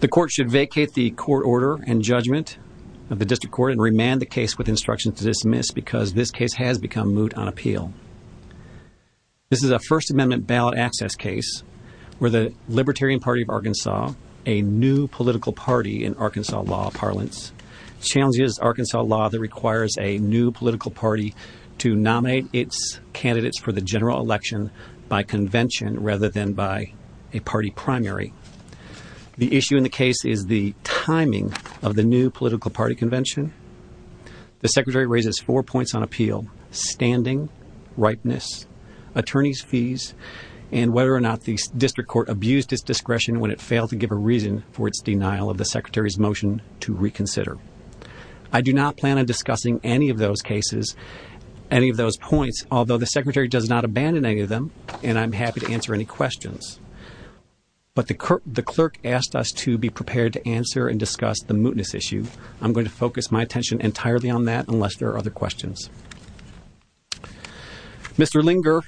The court should vacate the court order and judgment of the district court and remand the case with instruction to dismiss because this case has become moot on appeal. This is a First Amendment ballot access case where the Libertarian Party of Arkansas, a new political party in Arkansas law parlance, challenges Arkansas law that requires a new political party to nominate its candidates for the general election by convention rather than by a party primary. The issue in the case is the timing of the new political party convention. The secretary raises four points on appeal, standing, ripeness, attorney's fees, and whether or not the district court abused its discretion when it failed to give a reason for its denial of the secretary's motion to reconsider. I do not plan on discussing any of those cases, any of those points, although the secretary does not abandon any of them, and I'm happy to answer any questions. But the clerk asked us to be prepared to answer and discuss the mootness issue. I'm going to focus my attention entirely on that unless there are other questions. Mr. Linger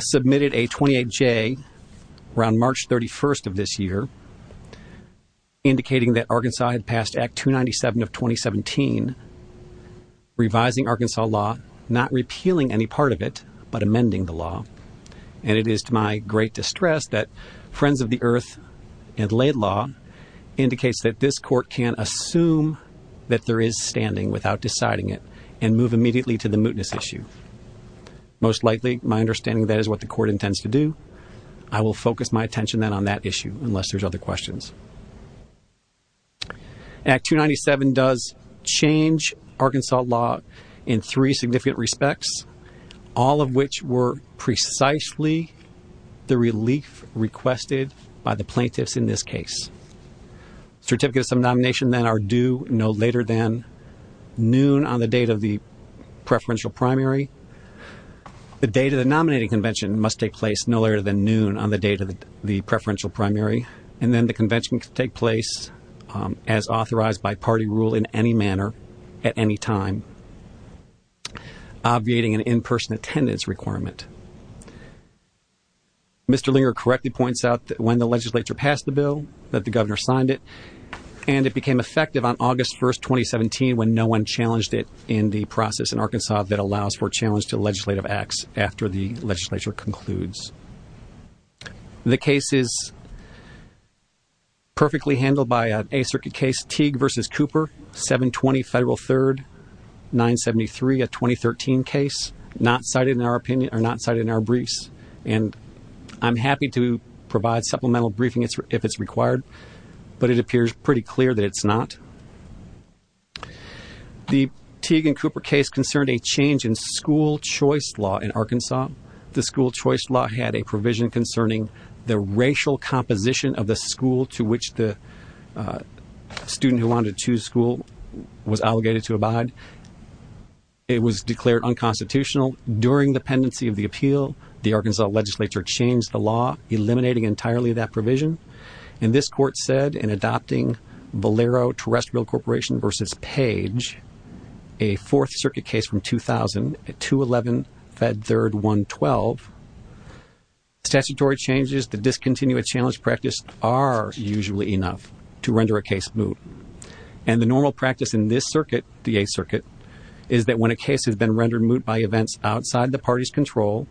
submitted a 28-J around March 31st of this year indicating that Arkansas had of 2017, revising Arkansas law, not repealing any part of it, but amending the law. And it is to my great distress that Friends of the Earth and Laidlaw indicates that this court can assume that there is standing without deciding it and move immediately to the mootness issue. Most likely, my understanding of that is what the court intends to do. I will focus my attention then on that issue unless there's other questions. Act 297 does change Arkansas law in three significant respects, all of which were precisely the relief requested by the plaintiffs in this case. Certificates of nomination then are due no later than noon on the date of the preferential primary. The date of the nominating convention must take place no later than noon on the date of the preferential primary. And then the convention can take place as authorized by party rule in any manner at any time, obviating an in-person attendance requirement. Mr. Linger correctly points out that when the legislature passed the bill, that the governor signed it, and it became effective on August 1st, 2017 when no one challenged it in the process in Arkansas that allows for challenge to legislative acts after the legislature concludes. The case is perfectly handled by an Eighth Circuit case, Teague v. Cooper, 720 Federal 3rd, 973, a 2013 case, not cited in our briefs. And I'm happy to provide supplemental briefing if it's required, but it appears pretty clear that it's not. The Teague v. Cooper case concerned a change in school choice law in Arkansas. The school choice law had a provision concerning the racial composition of the school to which the student who wanted to choose school was allocated to abide. It was declared unconstitutional. During the pendency of the appeal, the Arkansas legislature changed the law, eliminating entirely that provision. And this court said in adopting Valero Terrestrial Corporation v. Page, a Fourth Circuit case from 2000, 211 Fed 3rd, 112, statutory changes that discontinue a challenge practice are usually enough to render a case moot. And the normal practice in this circuit, the Eighth Circuit, is that when a case has been rendered moot by events outside the party's control,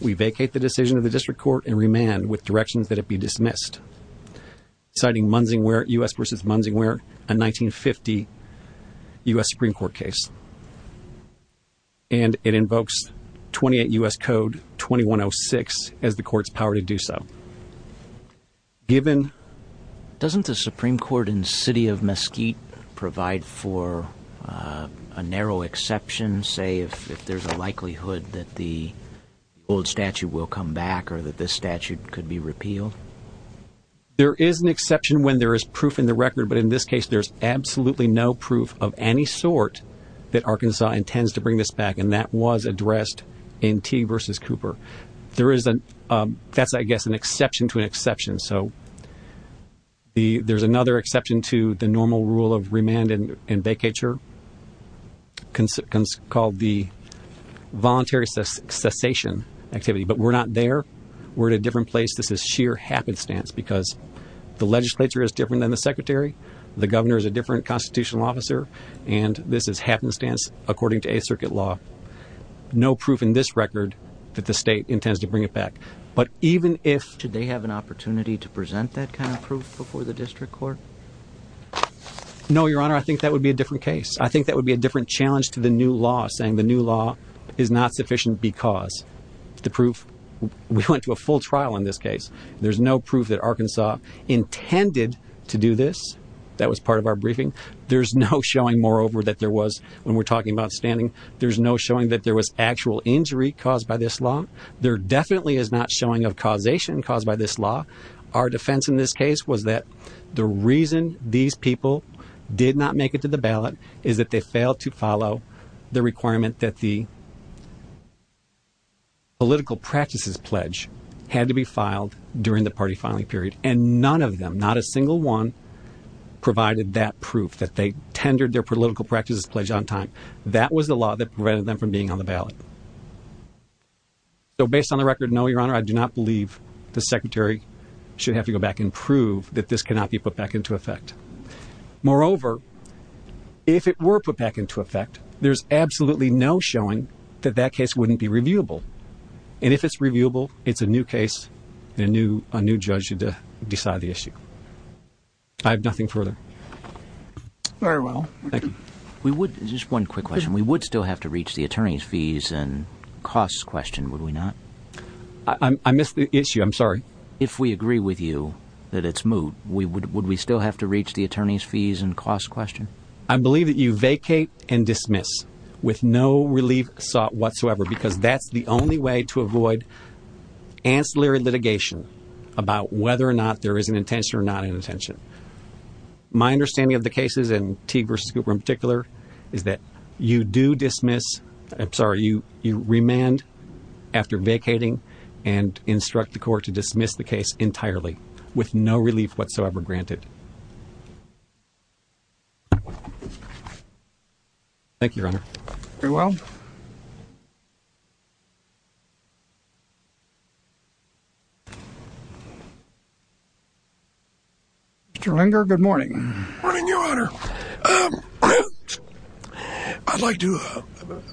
we vacate the decision of the district court and remand with directions that it be dismissed. Citing Munsingware, U.S. v. Munsingware, a 1950 U.S. Supreme Court case. And it invokes 28 U.S. Code 2106 as the court's power to do so. Given- Doesn't the Supreme Court in the city of Mesquite provide for a narrow exception, say, if there's a likelihood that the old statute will come back or that this statute could be repealed? There is an exception when there is proof in the record, but in this case, there's absolutely no proof of any sort that Arkansas intends to bring this back, and that was addressed in Teague v. Cooper. There is a- that's, I guess, an exception to an exception. And so, the- there's another exception to the normal rule of remand and vacature called the voluntary cessation activity. But we're not there. We're at a different place. This is sheer happenstance because the legislature is different than the secretary, the governor is a different constitutional officer, and this is happenstance according to Eighth Circuit law. No proof in this record that the state intends to bring it back. But even if- Would there be a need to present that kind of proof before the district court? No, Your Honor. I think that would be a different case. I think that would be a different challenge to the new law, saying the new law is not sufficient because the proof- we went to a full trial in this case. There's no proof that Arkansas intended to do this. That was part of our briefing. There's no showing, moreover, that there was, when we're talking about standing, there's no showing that there was actual injury caused by this law. There definitely is not showing of causation caused by this law. Our defense in this case was that the reason these people did not make it to the ballot is that they failed to follow the requirement that the political practices pledge had to be filed during the party filing period. And none of them, not a single one, provided that proof that they tendered their political practices pledge on time. That was the law that prevented them from being on the ballot. So based on the record, no, Your Honor, I do not believe the secretary should have to go back and prove that this cannot be put back into effect. Moreover, if it were put back into effect, there's absolutely no showing that that case wouldn't be reviewable. And if it's reviewable, it's a new case and a new judge should decide the issue. I have nothing further. Very well. Thank you. We would, just one quick question. We would still have to reach the attorney's fees and costs question, would we not? I missed the issue. I'm sorry. If we agree with you that it's moot, would we still have to reach the attorney's fees and costs question? I believe that you vacate and dismiss with no relief sought whatsoever because that's the only way to avoid ancillary litigation about whether or not there is an intention or not an intention. But my understanding of the cases, and Teague v. Cooper in particular, is that you do dismiss, I'm sorry, you remand after vacating and instruct the court to dismiss the case entirely with no relief whatsoever granted. Thank you, Your Honor. Thank you. Thank you. Thank you. Mr. Linger, good morning. Good morning, Your Honor. I'd like to,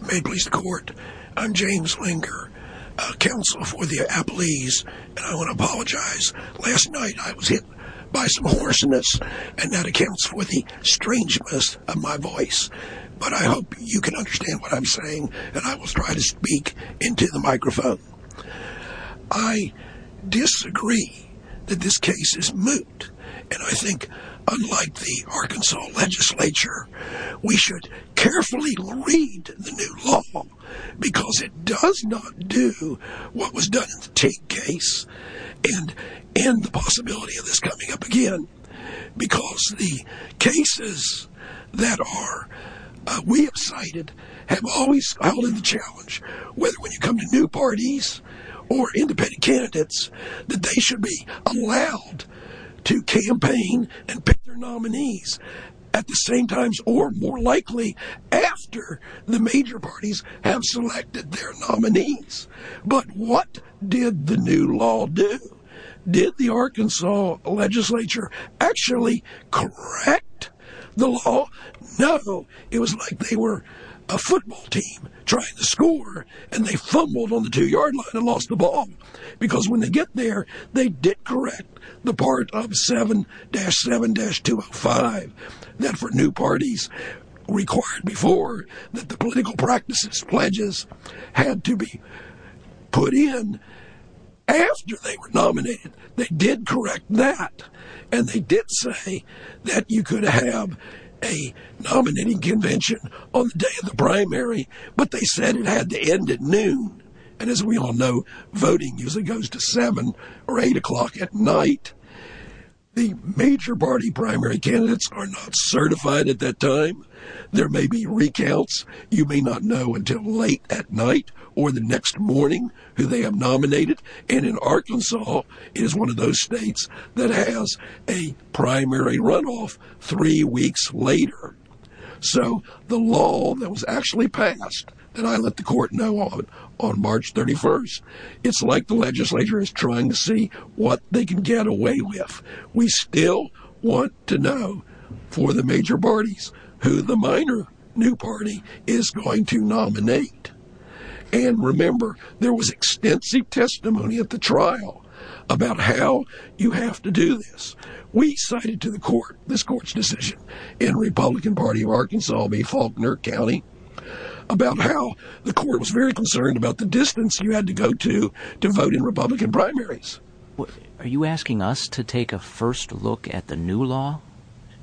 may it please the court, I'm James Linger, a counsel for the Appalese. And I want to apologize. Last night I was hit by some hoarseness and that accounts for the strangeness of my voice. But I hope you can understand what I'm saying and I will try to speak into the microphone. I disagree that this case is moot. And I think, unlike the Arkansas legislature, we should carefully read the new law because it does not do what was done in the Teague case and end the possibility of this coming up again. Because the cases that we have cited have always held in the challenge, whether when you come to new parties or independent candidates, that they should be allowed to campaign and pick their nominees at the same times or more likely after the major parties have selected their nominees. But what did the new law do? Did the Arkansas legislature actually correct the law? No. It was like they were a football team trying to score and they fumbled on the two-yard line and lost the ball. Because when they get there, they did correct the part of 7-7-205 that for new parties required before that the political practices pledges had to be put in after they were nominated. They did correct that. And they did say that you could have a nominating convention on the day of the primary, but they said it had to end at noon. And as we all know, voting usually goes to 7 or 8 o'clock at night. The major party primary candidates are not certified at that time. There may be recounts. You may not know until late at night or the next morning who they have nominated. And in Arkansas, it is one of those states that has a primary runoff three weeks later. So the law that was actually passed that I let the court know on on March 31st, it's like the legislature is trying to see what they can get away with. We still want to know for the major parties who the minor new party is going to nominate. And remember, there was extensive testimony at the trial about how you have to do this. We cited to the court this court's decision in Republican Party of Arkansas v. Faulkner County about how the court was very concerned about the distance you had to go to to vote in Republican primaries. Are you asking us to take a first look at the new law?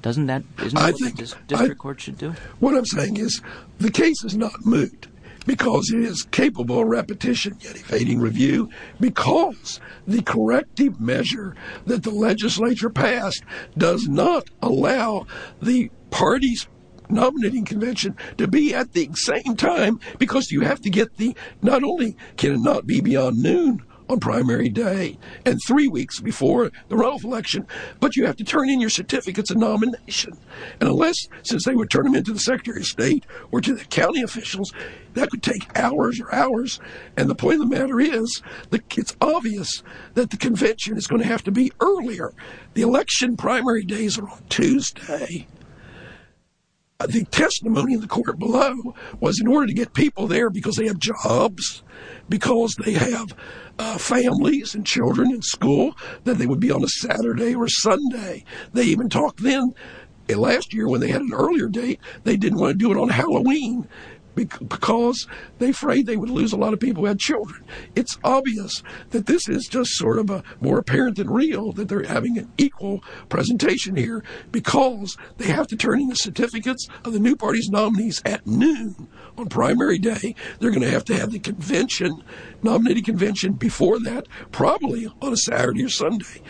Isn't that what the district court should do? What I'm saying is the case is not moot because it is capable of repetition, yet a fading review, because the corrective measure that the legislature passed does not allow the party's nominating convention to be at the same time because you have to get the not only can it not be beyond noon on primary day and three weeks before the runoff election, but you have to turn in your certificates of nomination. And unless, since they would turn them in to the Secretary of State or to the county officials, that could take hours or hours. And the point of the matter is that it's obvious that the convention is going to have to be earlier. The election primary days are on Tuesday. The testimony in the court below was in order to get people there because they have jobs, because they have families and children in school, that they would be on a Saturday or Sunday. They even talked then last year when they had an earlier date, they didn't want to do it on Halloween because they afraid they would lose a lot of people who had children. It's obvious that this is just sort of a more apparent than real that they're having an equal presentation here because they have to turn in the certificates of the new party's nominees at noon on primary day. They're going to have to have the convention, nominating convention before that, probably on a Saturday or Sunday.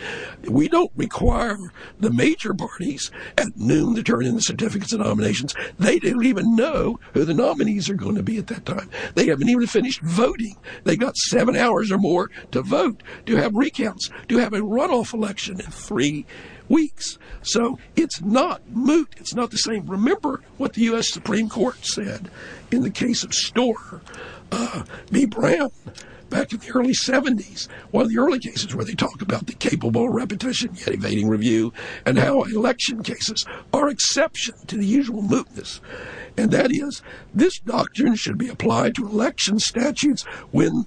We don't require the major parties at noon to turn in the certificates of nominations. They don't even know who the nominees are going to be at that time. They haven't even finished voting. They've got seven hours or more to vote, to have recounts, to have a runoff election in three weeks. So it's not moot. It's not the same. Remember what the US Supreme Court said in the case of Storer v. Brown back in the early 70s, one of the early cases where they talk about the capable repetition yet evading review and how election cases are exception to the usual mootness. And that is this doctrine should be applied to election statutes when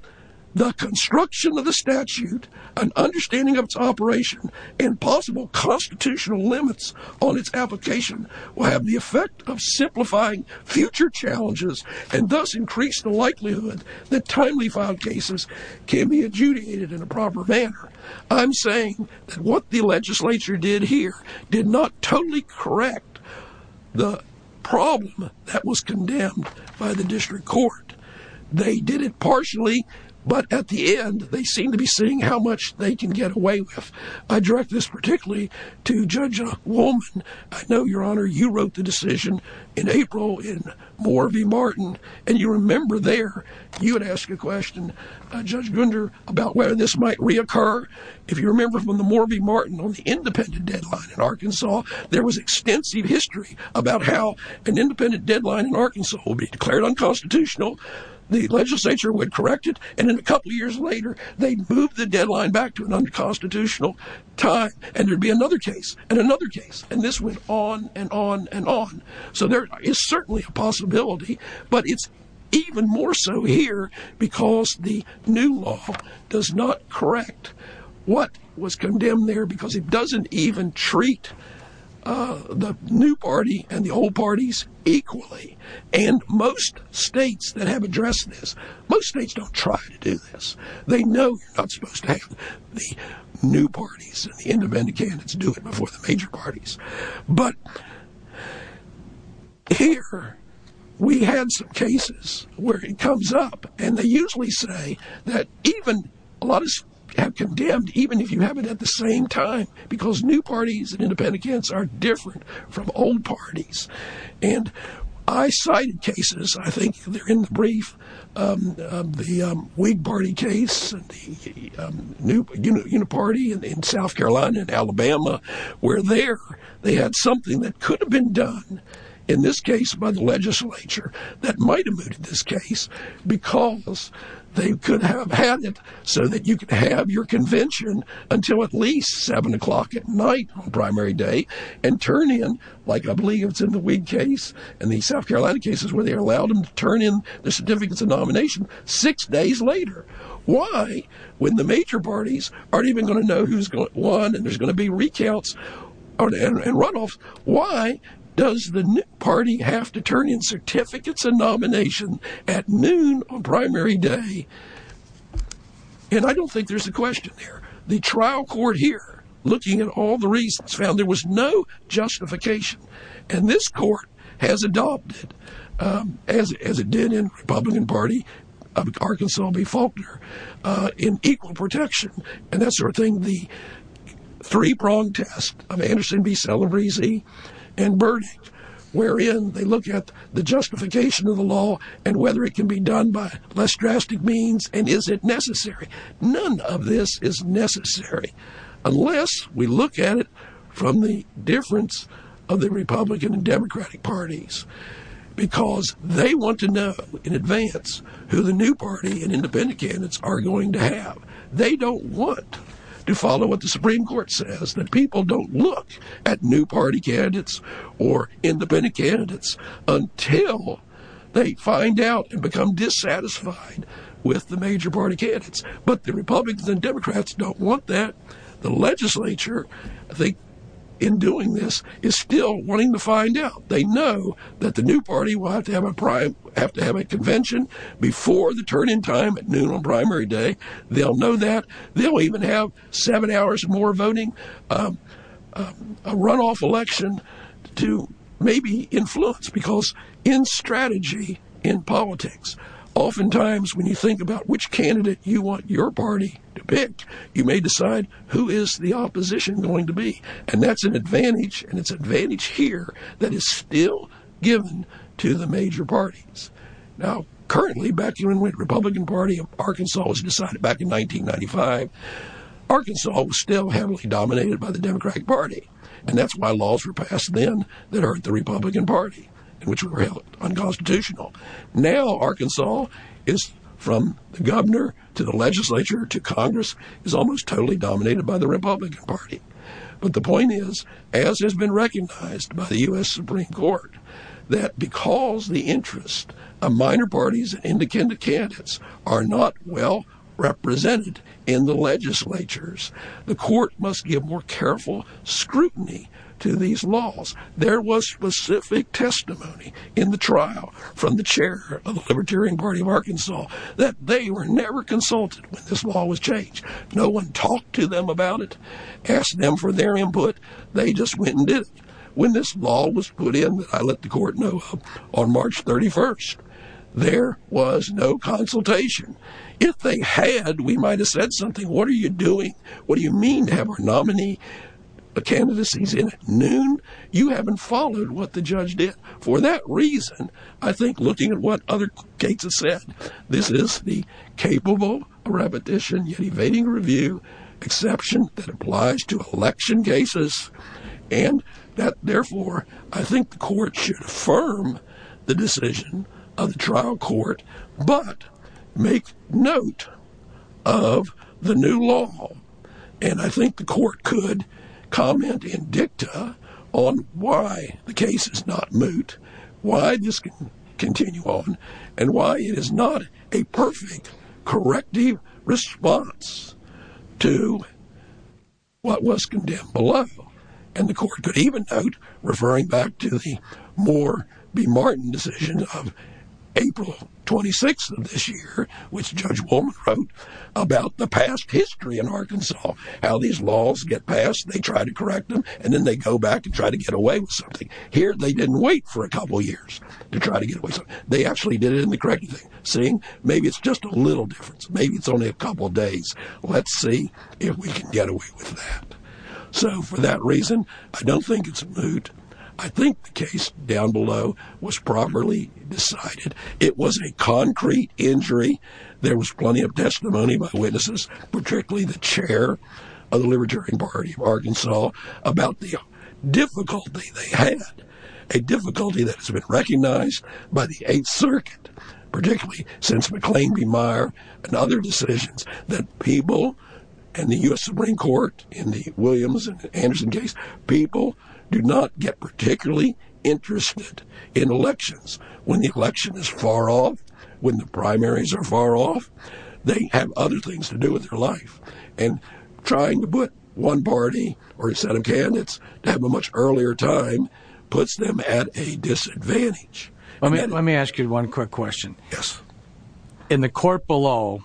the construction of the statute and understanding of its operation and possible constitutional limits on its application will have the effect of simplifying future challenges and thus increase the likelihood that timely filed cases can be adjudicated in a proper manner. I'm saying that what the legislature did here did not totally correct the problem that was condemned by the district court. They did it partially, but at the end, they seem to be seeing how much they can get away with. I direct this particularly to Judge Wolman. I know, Your Honor, you wrote the decision in April in Moore v. Martin, and you remember there, you would ask a question, Judge Gunder, about whether this might reoccur. If you remember from the Moore v. Martin on the independent deadline in Arkansas, there was extensive history about how an independent deadline in Arkansas will be declared unconstitutional. The legislature would correct it, and then a couple of years later, they'd move the deadline back to an unconstitutional time, and there'd be another case and another case, and this went on and on and on. So there is certainly a possibility, but it's even more so here because the new law does not correct what was condemned there because it doesn't even treat the new party and the old parties equally, and most states that have addressed this, most states don't try to do this. They know you're not supposed to have the new parties and the independent candidates do it before the major parties. But here we had some cases where it comes up, and they usually say that even a lot of us have condemned even if you have it at the same time because new parties and independent candidates are different from old parties, and I cited cases. I think they're in the brief. The Whig Party case, the new party in South Carolina and Alabama, where there they had something that could have been done in this case by the legislature that might have mooted this case because they could have had it so that you could have your convention until at least 7 o'clock at night on primary day and turn in, like I believe it's in the Whig Party cases where they allowed them to turn in the certificates of nomination six days later. Why, when the major parties aren't even going to know who's won and there's going to be recounts and runoffs, why does the party have to turn in certificates of nomination at noon on primary day? And I don't think there's a question there. The trial court here, looking at all the reasons, found there was no justification, and this as it did in the Republican Party of Arkansas v. Faulkner, in equal protection and that sort of thing, the three-pronged test of Anderson v. Celebrezzi and Burdick, wherein they look at the justification of the law and whether it can be done by less drastic means and is it necessary. None of this is necessary unless we look at it from the difference of the Republican and because they want to know in advance who the new party and independent candidates are going to have. They don't want to follow what the Supreme Court says, that people don't look at new party candidates or independent candidates until they find out and become dissatisfied with the major party candidates. But the Republicans and Democrats don't want that. The legislature, I think, in doing this, is still wanting to find out. They know that the new party will have to have a convention before the turn in time at noon on primary day. They'll know that. They'll even have seven hours more voting, a runoff election to maybe influence because in strategy, in politics, oftentimes when you think about which candidate you want your party to pick, you may decide who is the opposition going to be. And that's an advantage. And it's an advantage here that is still given to the major parties. Now, currently, back when Republican Party of Arkansas was decided back in 1995, Arkansas was still heavily dominated by the Democratic Party. And that's why laws were passed then that hurt the Republican Party, which were held unconstitutional. Now, Arkansas is from the governor to the legislature to Congress is almost totally dominated by the Republican Party. But the point is, as has been recognized by the U.S. Supreme Court, that because the interest of minor parties in the candidates are not well represented in the legislatures, the court must give more careful scrutiny to these laws. There was specific testimony in the trial from the chair of the Libertarian Party of Arkansas that they were never consulted when this law was changed. No one talked to them about it, asked them for their input. They just went and did it. When this law was put in, I let the court know on March 31st, there was no consultation. If they had, we might have said something. What are you doing? What do you mean to have our nominee candidacies in at noon? You haven't followed what the judge did. For that reason, I think looking at what other cases said, this is the capable repetition yet evading review exception that applies to election cases. And therefore, I think the court should affirm the decision of the trial court, but make note of the new law. And I think the court could comment in dicta on why the case is not moot, why this can continue on, and why it is not a perfect corrective response to what was condemned below. And the court could even note, referring back to the Moore v. Martin decision of April 26th of this year, which Judge Woolman wrote about the past history in Arkansas, how these laws get passed, they try to correct them, and then they go back and try to get away with something. Here, they didn't wait for a couple years to try to get away with something. They actually did it in the corrective thing, seeing maybe it's just a little difference. Maybe it's only a couple days. Let's see if we can get away with that. So for that reason, I don't think it's moot. I think the case down below was properly decided. It was a concrete injury. There was plenty of testimony by witnesses, particularly the chair of the Libertarian Party of Arkansas, about the difficulty they had, a difficulty that has been recognized by the 8th Circuit, particularly since McLean v. Meyer and other decisions that people in the U.S. Supreme Court, in the Williams v. Anderson case, people do not get particularly interested in elections. When the election is far off, when the primaries are far off, they have other things to do with their life. And trying to put one party or a set of candidates to have a much earlier time puts them at a disadvantage. Let me ask you one quick question. Yes. In the court below,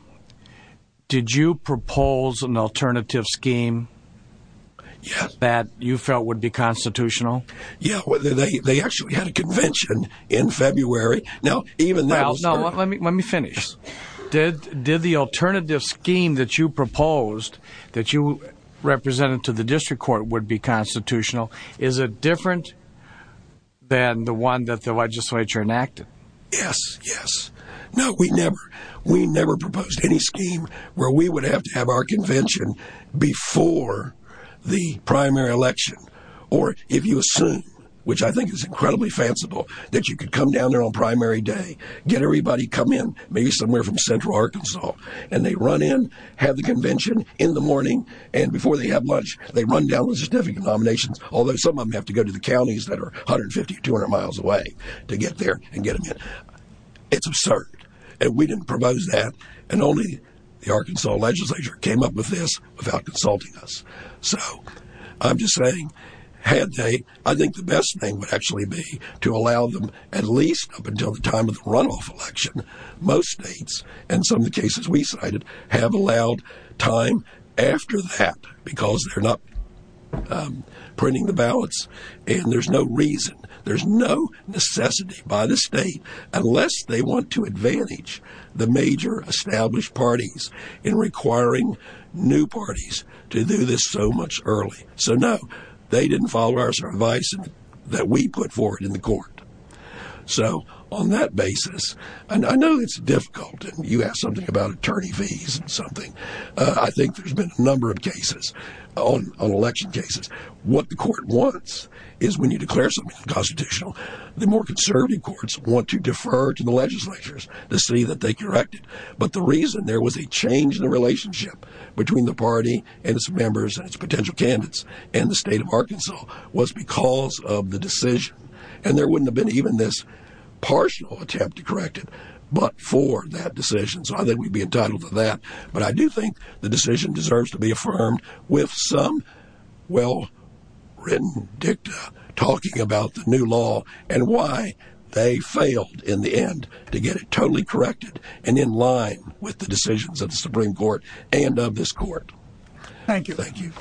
did you propose an alternative scheme that you felt would be constitutional? Yeah. They actually had a convention in February. Now, even that... Well, let me finish. Did the alternative scheme that you proposed, that you represented to the district court, would be constitutional? Is it different than the one that the legislature enacted? Yes. Yes. No, we never. We never proposed any scheme where we would have to have our convention before the primary election. Or, if you assume, which I think is incredibly fanciful, that you could come down there on somewhere from central Arkansas, and they run in, have the convention in the morning, and before they have lunch, they run down the certificate nominations, although some of them have to go to the counties that are 150, 200 miles away to get there and get them in. It's absurd. And we didn't propose that, and only the Arkansas legislature came up with this without consulting us. So, I'm just saying, had they... I think the best thing would actually be to allow them, at least up until the time of the runoff election, most states, and some of the cases we cited, have allowed time after that, because they're not printing the ballots, and there's no reason, there's no necessity by the state, unless they want to advantage the major established parties in requiring new parties to do this so much early. So, no, they didn't follow our advice that we put forward in the court. So, on that basis, and I know it's difficult, and you asked something about attorney fees and something. I think there's been a number of cases on election cases. What the court wants is when you declare something unconstitutional, the more conservative courts want to defer to the legislatures to see that they correct it. But the reason there was a change in the relationship between the party and its members and its potential candidates and the state of Arkansas was because of the decision. And there wouldn't have been even this partial attempt to correct it, but for that decision. So, I think we'd be entitled to that. But I do think the decision deserves to be affirmed with some well-written dicta talking about the new law and why they failed in the end to get it totally corrected and in line with the decisions of the Supreme Court and of this court. Thank you. Thank you.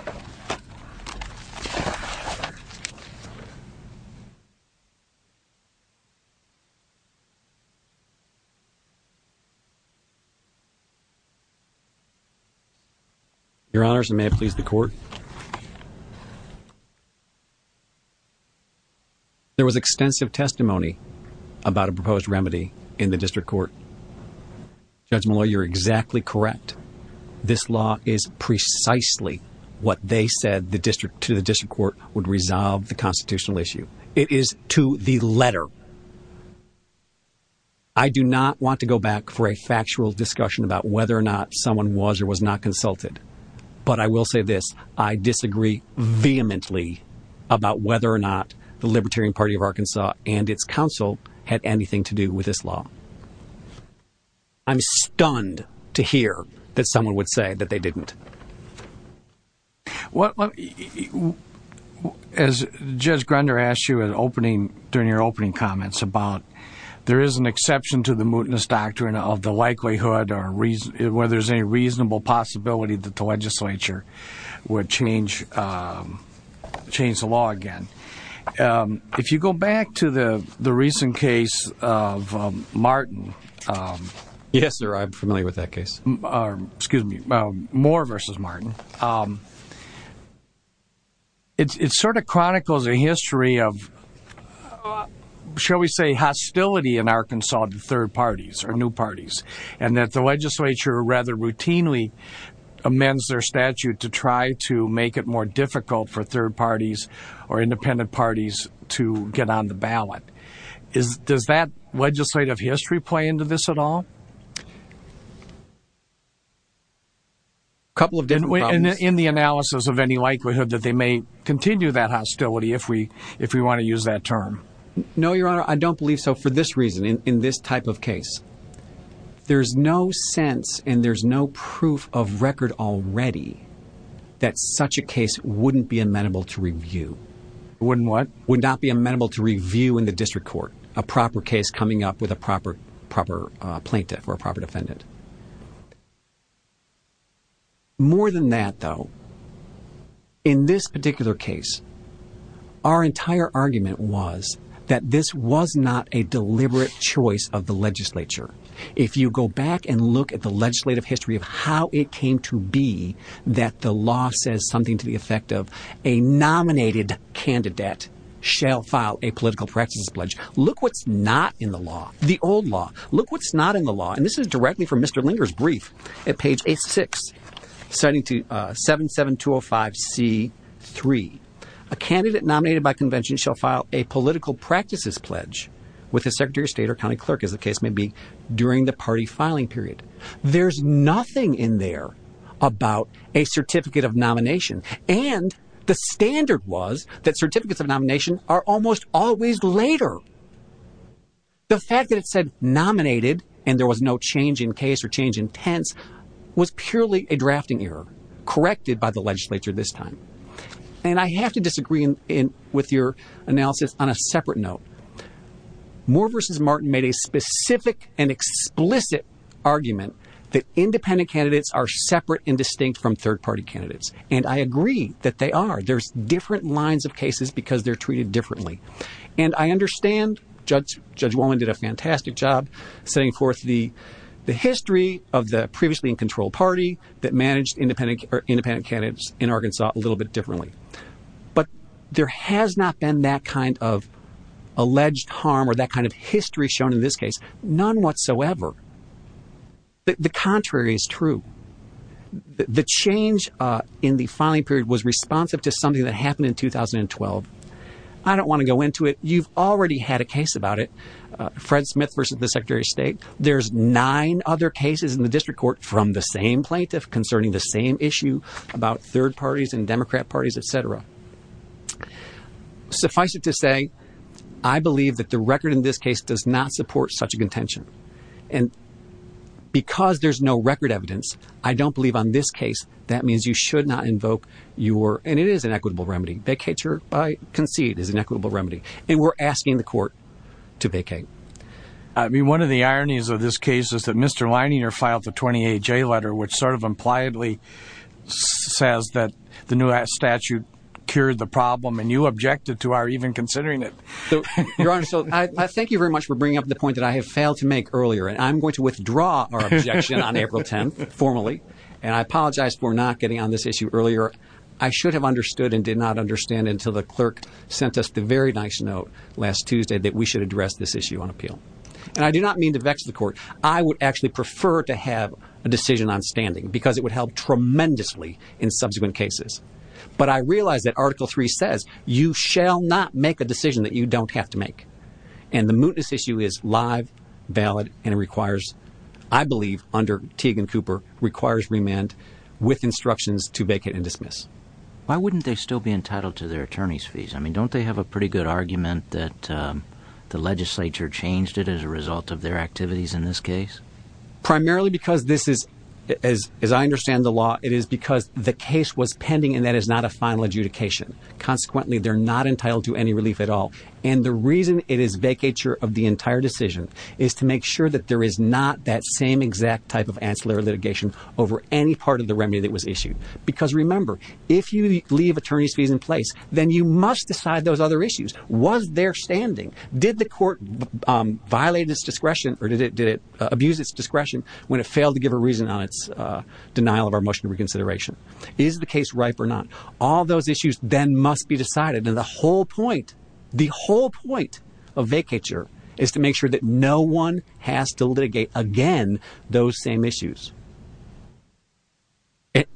Your Honors, and may it please the court. There was extensive testimony about a proposed remedy in the district court. Judge Malloy, you're exactly correct. This law is precisely what they said to the district court would resolve the constitutional issue. It is to the letter. I do not want to go back for a factual discussion about whether or not someone was or was not consulted. But I will say this. I disagree vehemently about whether or not the Libertarian Party of Arkansas and its counsel had anything to do with this law. I'm stunned to hear that someone would say that they didn't. As Judge Grunder asked you during your opening comments about there is an exception to the mootness doctrine of the likelihood or whether there's any reasonable possibility that the legislature would change the law again. If you go back to the recent case of Martin. Yes, sir. I'm familiar with that case. Excuse me. Moore versus Martin. It sort of chronicles a history of, shall we say, hostility in Arkansas to third parties or new parties, and that the legislature rather routinely amends their statute to try to make it more difficult for third parties or independent parties to get on the ballot. Does that legislative history play into this at all? A couple of different problems. In the analysis of any likelihood that they may continue that hostility, if we want to use that term. No, Your Honor. I don't believe so for this reason, in this type of case. There's no sense and there's no proof of record already that such a case wouldn't be amendable to review. Wouldn't what? Would not be amenable to review in the district court. A proper case coming up with a proper plaintiff or a proper defendant. More than that, though, in this particular case, our entire argument was that this was not a deliberate choice of the legislature. If you go back and look at the legislative history of how it came to be that the law says something to the effect of a nominated candidate shall file a political practices pledge. Look what's not in the law. The old law. Look what's not in the law. And this is directly from Mr. Linger's brief at page 6, citing to 77205C3. A candidate nominated by convention shall file a political practices pledge with the secretary of state or county clerk, as the case may be, during the party filing period. There's nothing in there about a certificate of nomination. And the standard was that certificates of nomination are almost always later. The fact that it said nominated and there was no change in case or change in tense was purely a drafting error corrected by the legislature this time. And I have to disagree with your analysis on a separate note. Moore v. Martin made a specific and explicit argument that independent candidates are separate and distinct from third party candidates. And I agree that they are. There's different lines of cases because they're treated differently. And I understand Judge Wallen did a fantastic job setting forth the history of the previously in control party that managed independent candidates in Arkansas a little bit differently. But there has not been that kind of alleged harm or that kind of history shown in this case. None whatsoever. The contrary is true. The change in the filing period was responsive to something that happened in 2012. I don't want to go into it. You've already had a case about it. Fred Smith v. the secretary of state. There's nine other cases in the district court from the same plaintiff concerning the same issue about third parties and Democrat parties, etc. Suffice it to say, I believe that the record in this case does not support such a contention. And because there's no record evidence, I don't believe on this case that means you should not invoke your and it is an equitable remedy. Vacate your concede is an equitable remedy. And we're asking the court to vacate. I mean, one of the ironies of this case is that Mr. Lininger filed the 28-J letter, which sort of impliedly says that the new statute cured the problem. And you objected to our even considering it. Your Honor, so I thank you very much for bringing up the point that I have failed to make earlier. And I'm going to withdraw our objection on April 10th formally. And I apologize for not getting on this issue earlier. I should have understood and did not understand until the clerk sent us the very nice note last Tuesday that we should address this issue on appeal. And I do not mean to vex the court. I would actually prefer to have a decision on standing because it would help tremendously in subsequent cases. But I realize that Article 3 says you shall not make a decision that you don't have to make. And the mootness issue is live, valid, and requires, I believe, under Teague and Cooper, requires remand with instructions to vacate and dismiss. Why wouldn't they still be entitled to their attorney's fees? I mean, don't they have a pretty good argument that the legislature changed it as a result of their activities in this case? Primarily because this is, as I understand the law, it is because the case was pending and that is not a final adjudication. Consequently, they're not entitled to any relief at all. And the reason it is vacature of the entire decision is to make sure that there is not that same exact type of ancillary litigation over any part of the remedy that was issued. Because, remember, if you leave attorney's fees in place, then you must decide those other issues. Was there standing? Did the court violate its discretion or did it abuse its discretion when it failed to give a reason on its denial of our motion of reconsideration? Is the case ripe or not? All those issues then must be decided. And the whole point, the whole point of vacature is to make sure that no one has to litigate again those same issues.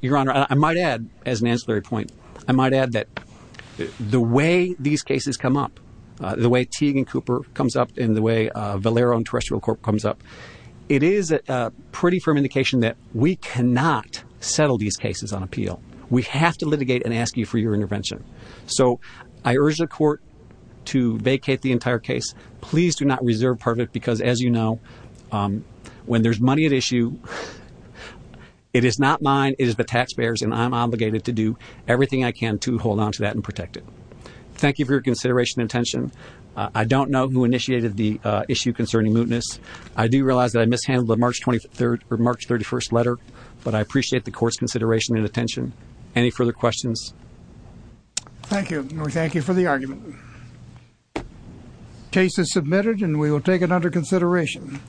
Your Honor, I might add, as an ancillary point, I might add that the way these cases come up, the way Teague and Cooper comes up, and the way Valero and Terrestrial Corp comes up, it is a pretty firm indication that we cannot settle these cases on appeal. We have to litigate and ask you for your intervention. So I urge the court to vacate the entire case. Please do not reserve part of it because, as you know, when there's money at issue, it is not mine. It is the taxpayer's, and I'm obligated to do everything I can to hold on to that and protect it. Thank you for your consideration and attention. I don't know who initiated the issue concerning mootness. I do realize that I mishandled the March 23rd or March 31st letter, but I appreciate the court's consideration and attention. Any further questions? Thank you, and we thank you for the argument. The case is submitted, and we will take it under consideration.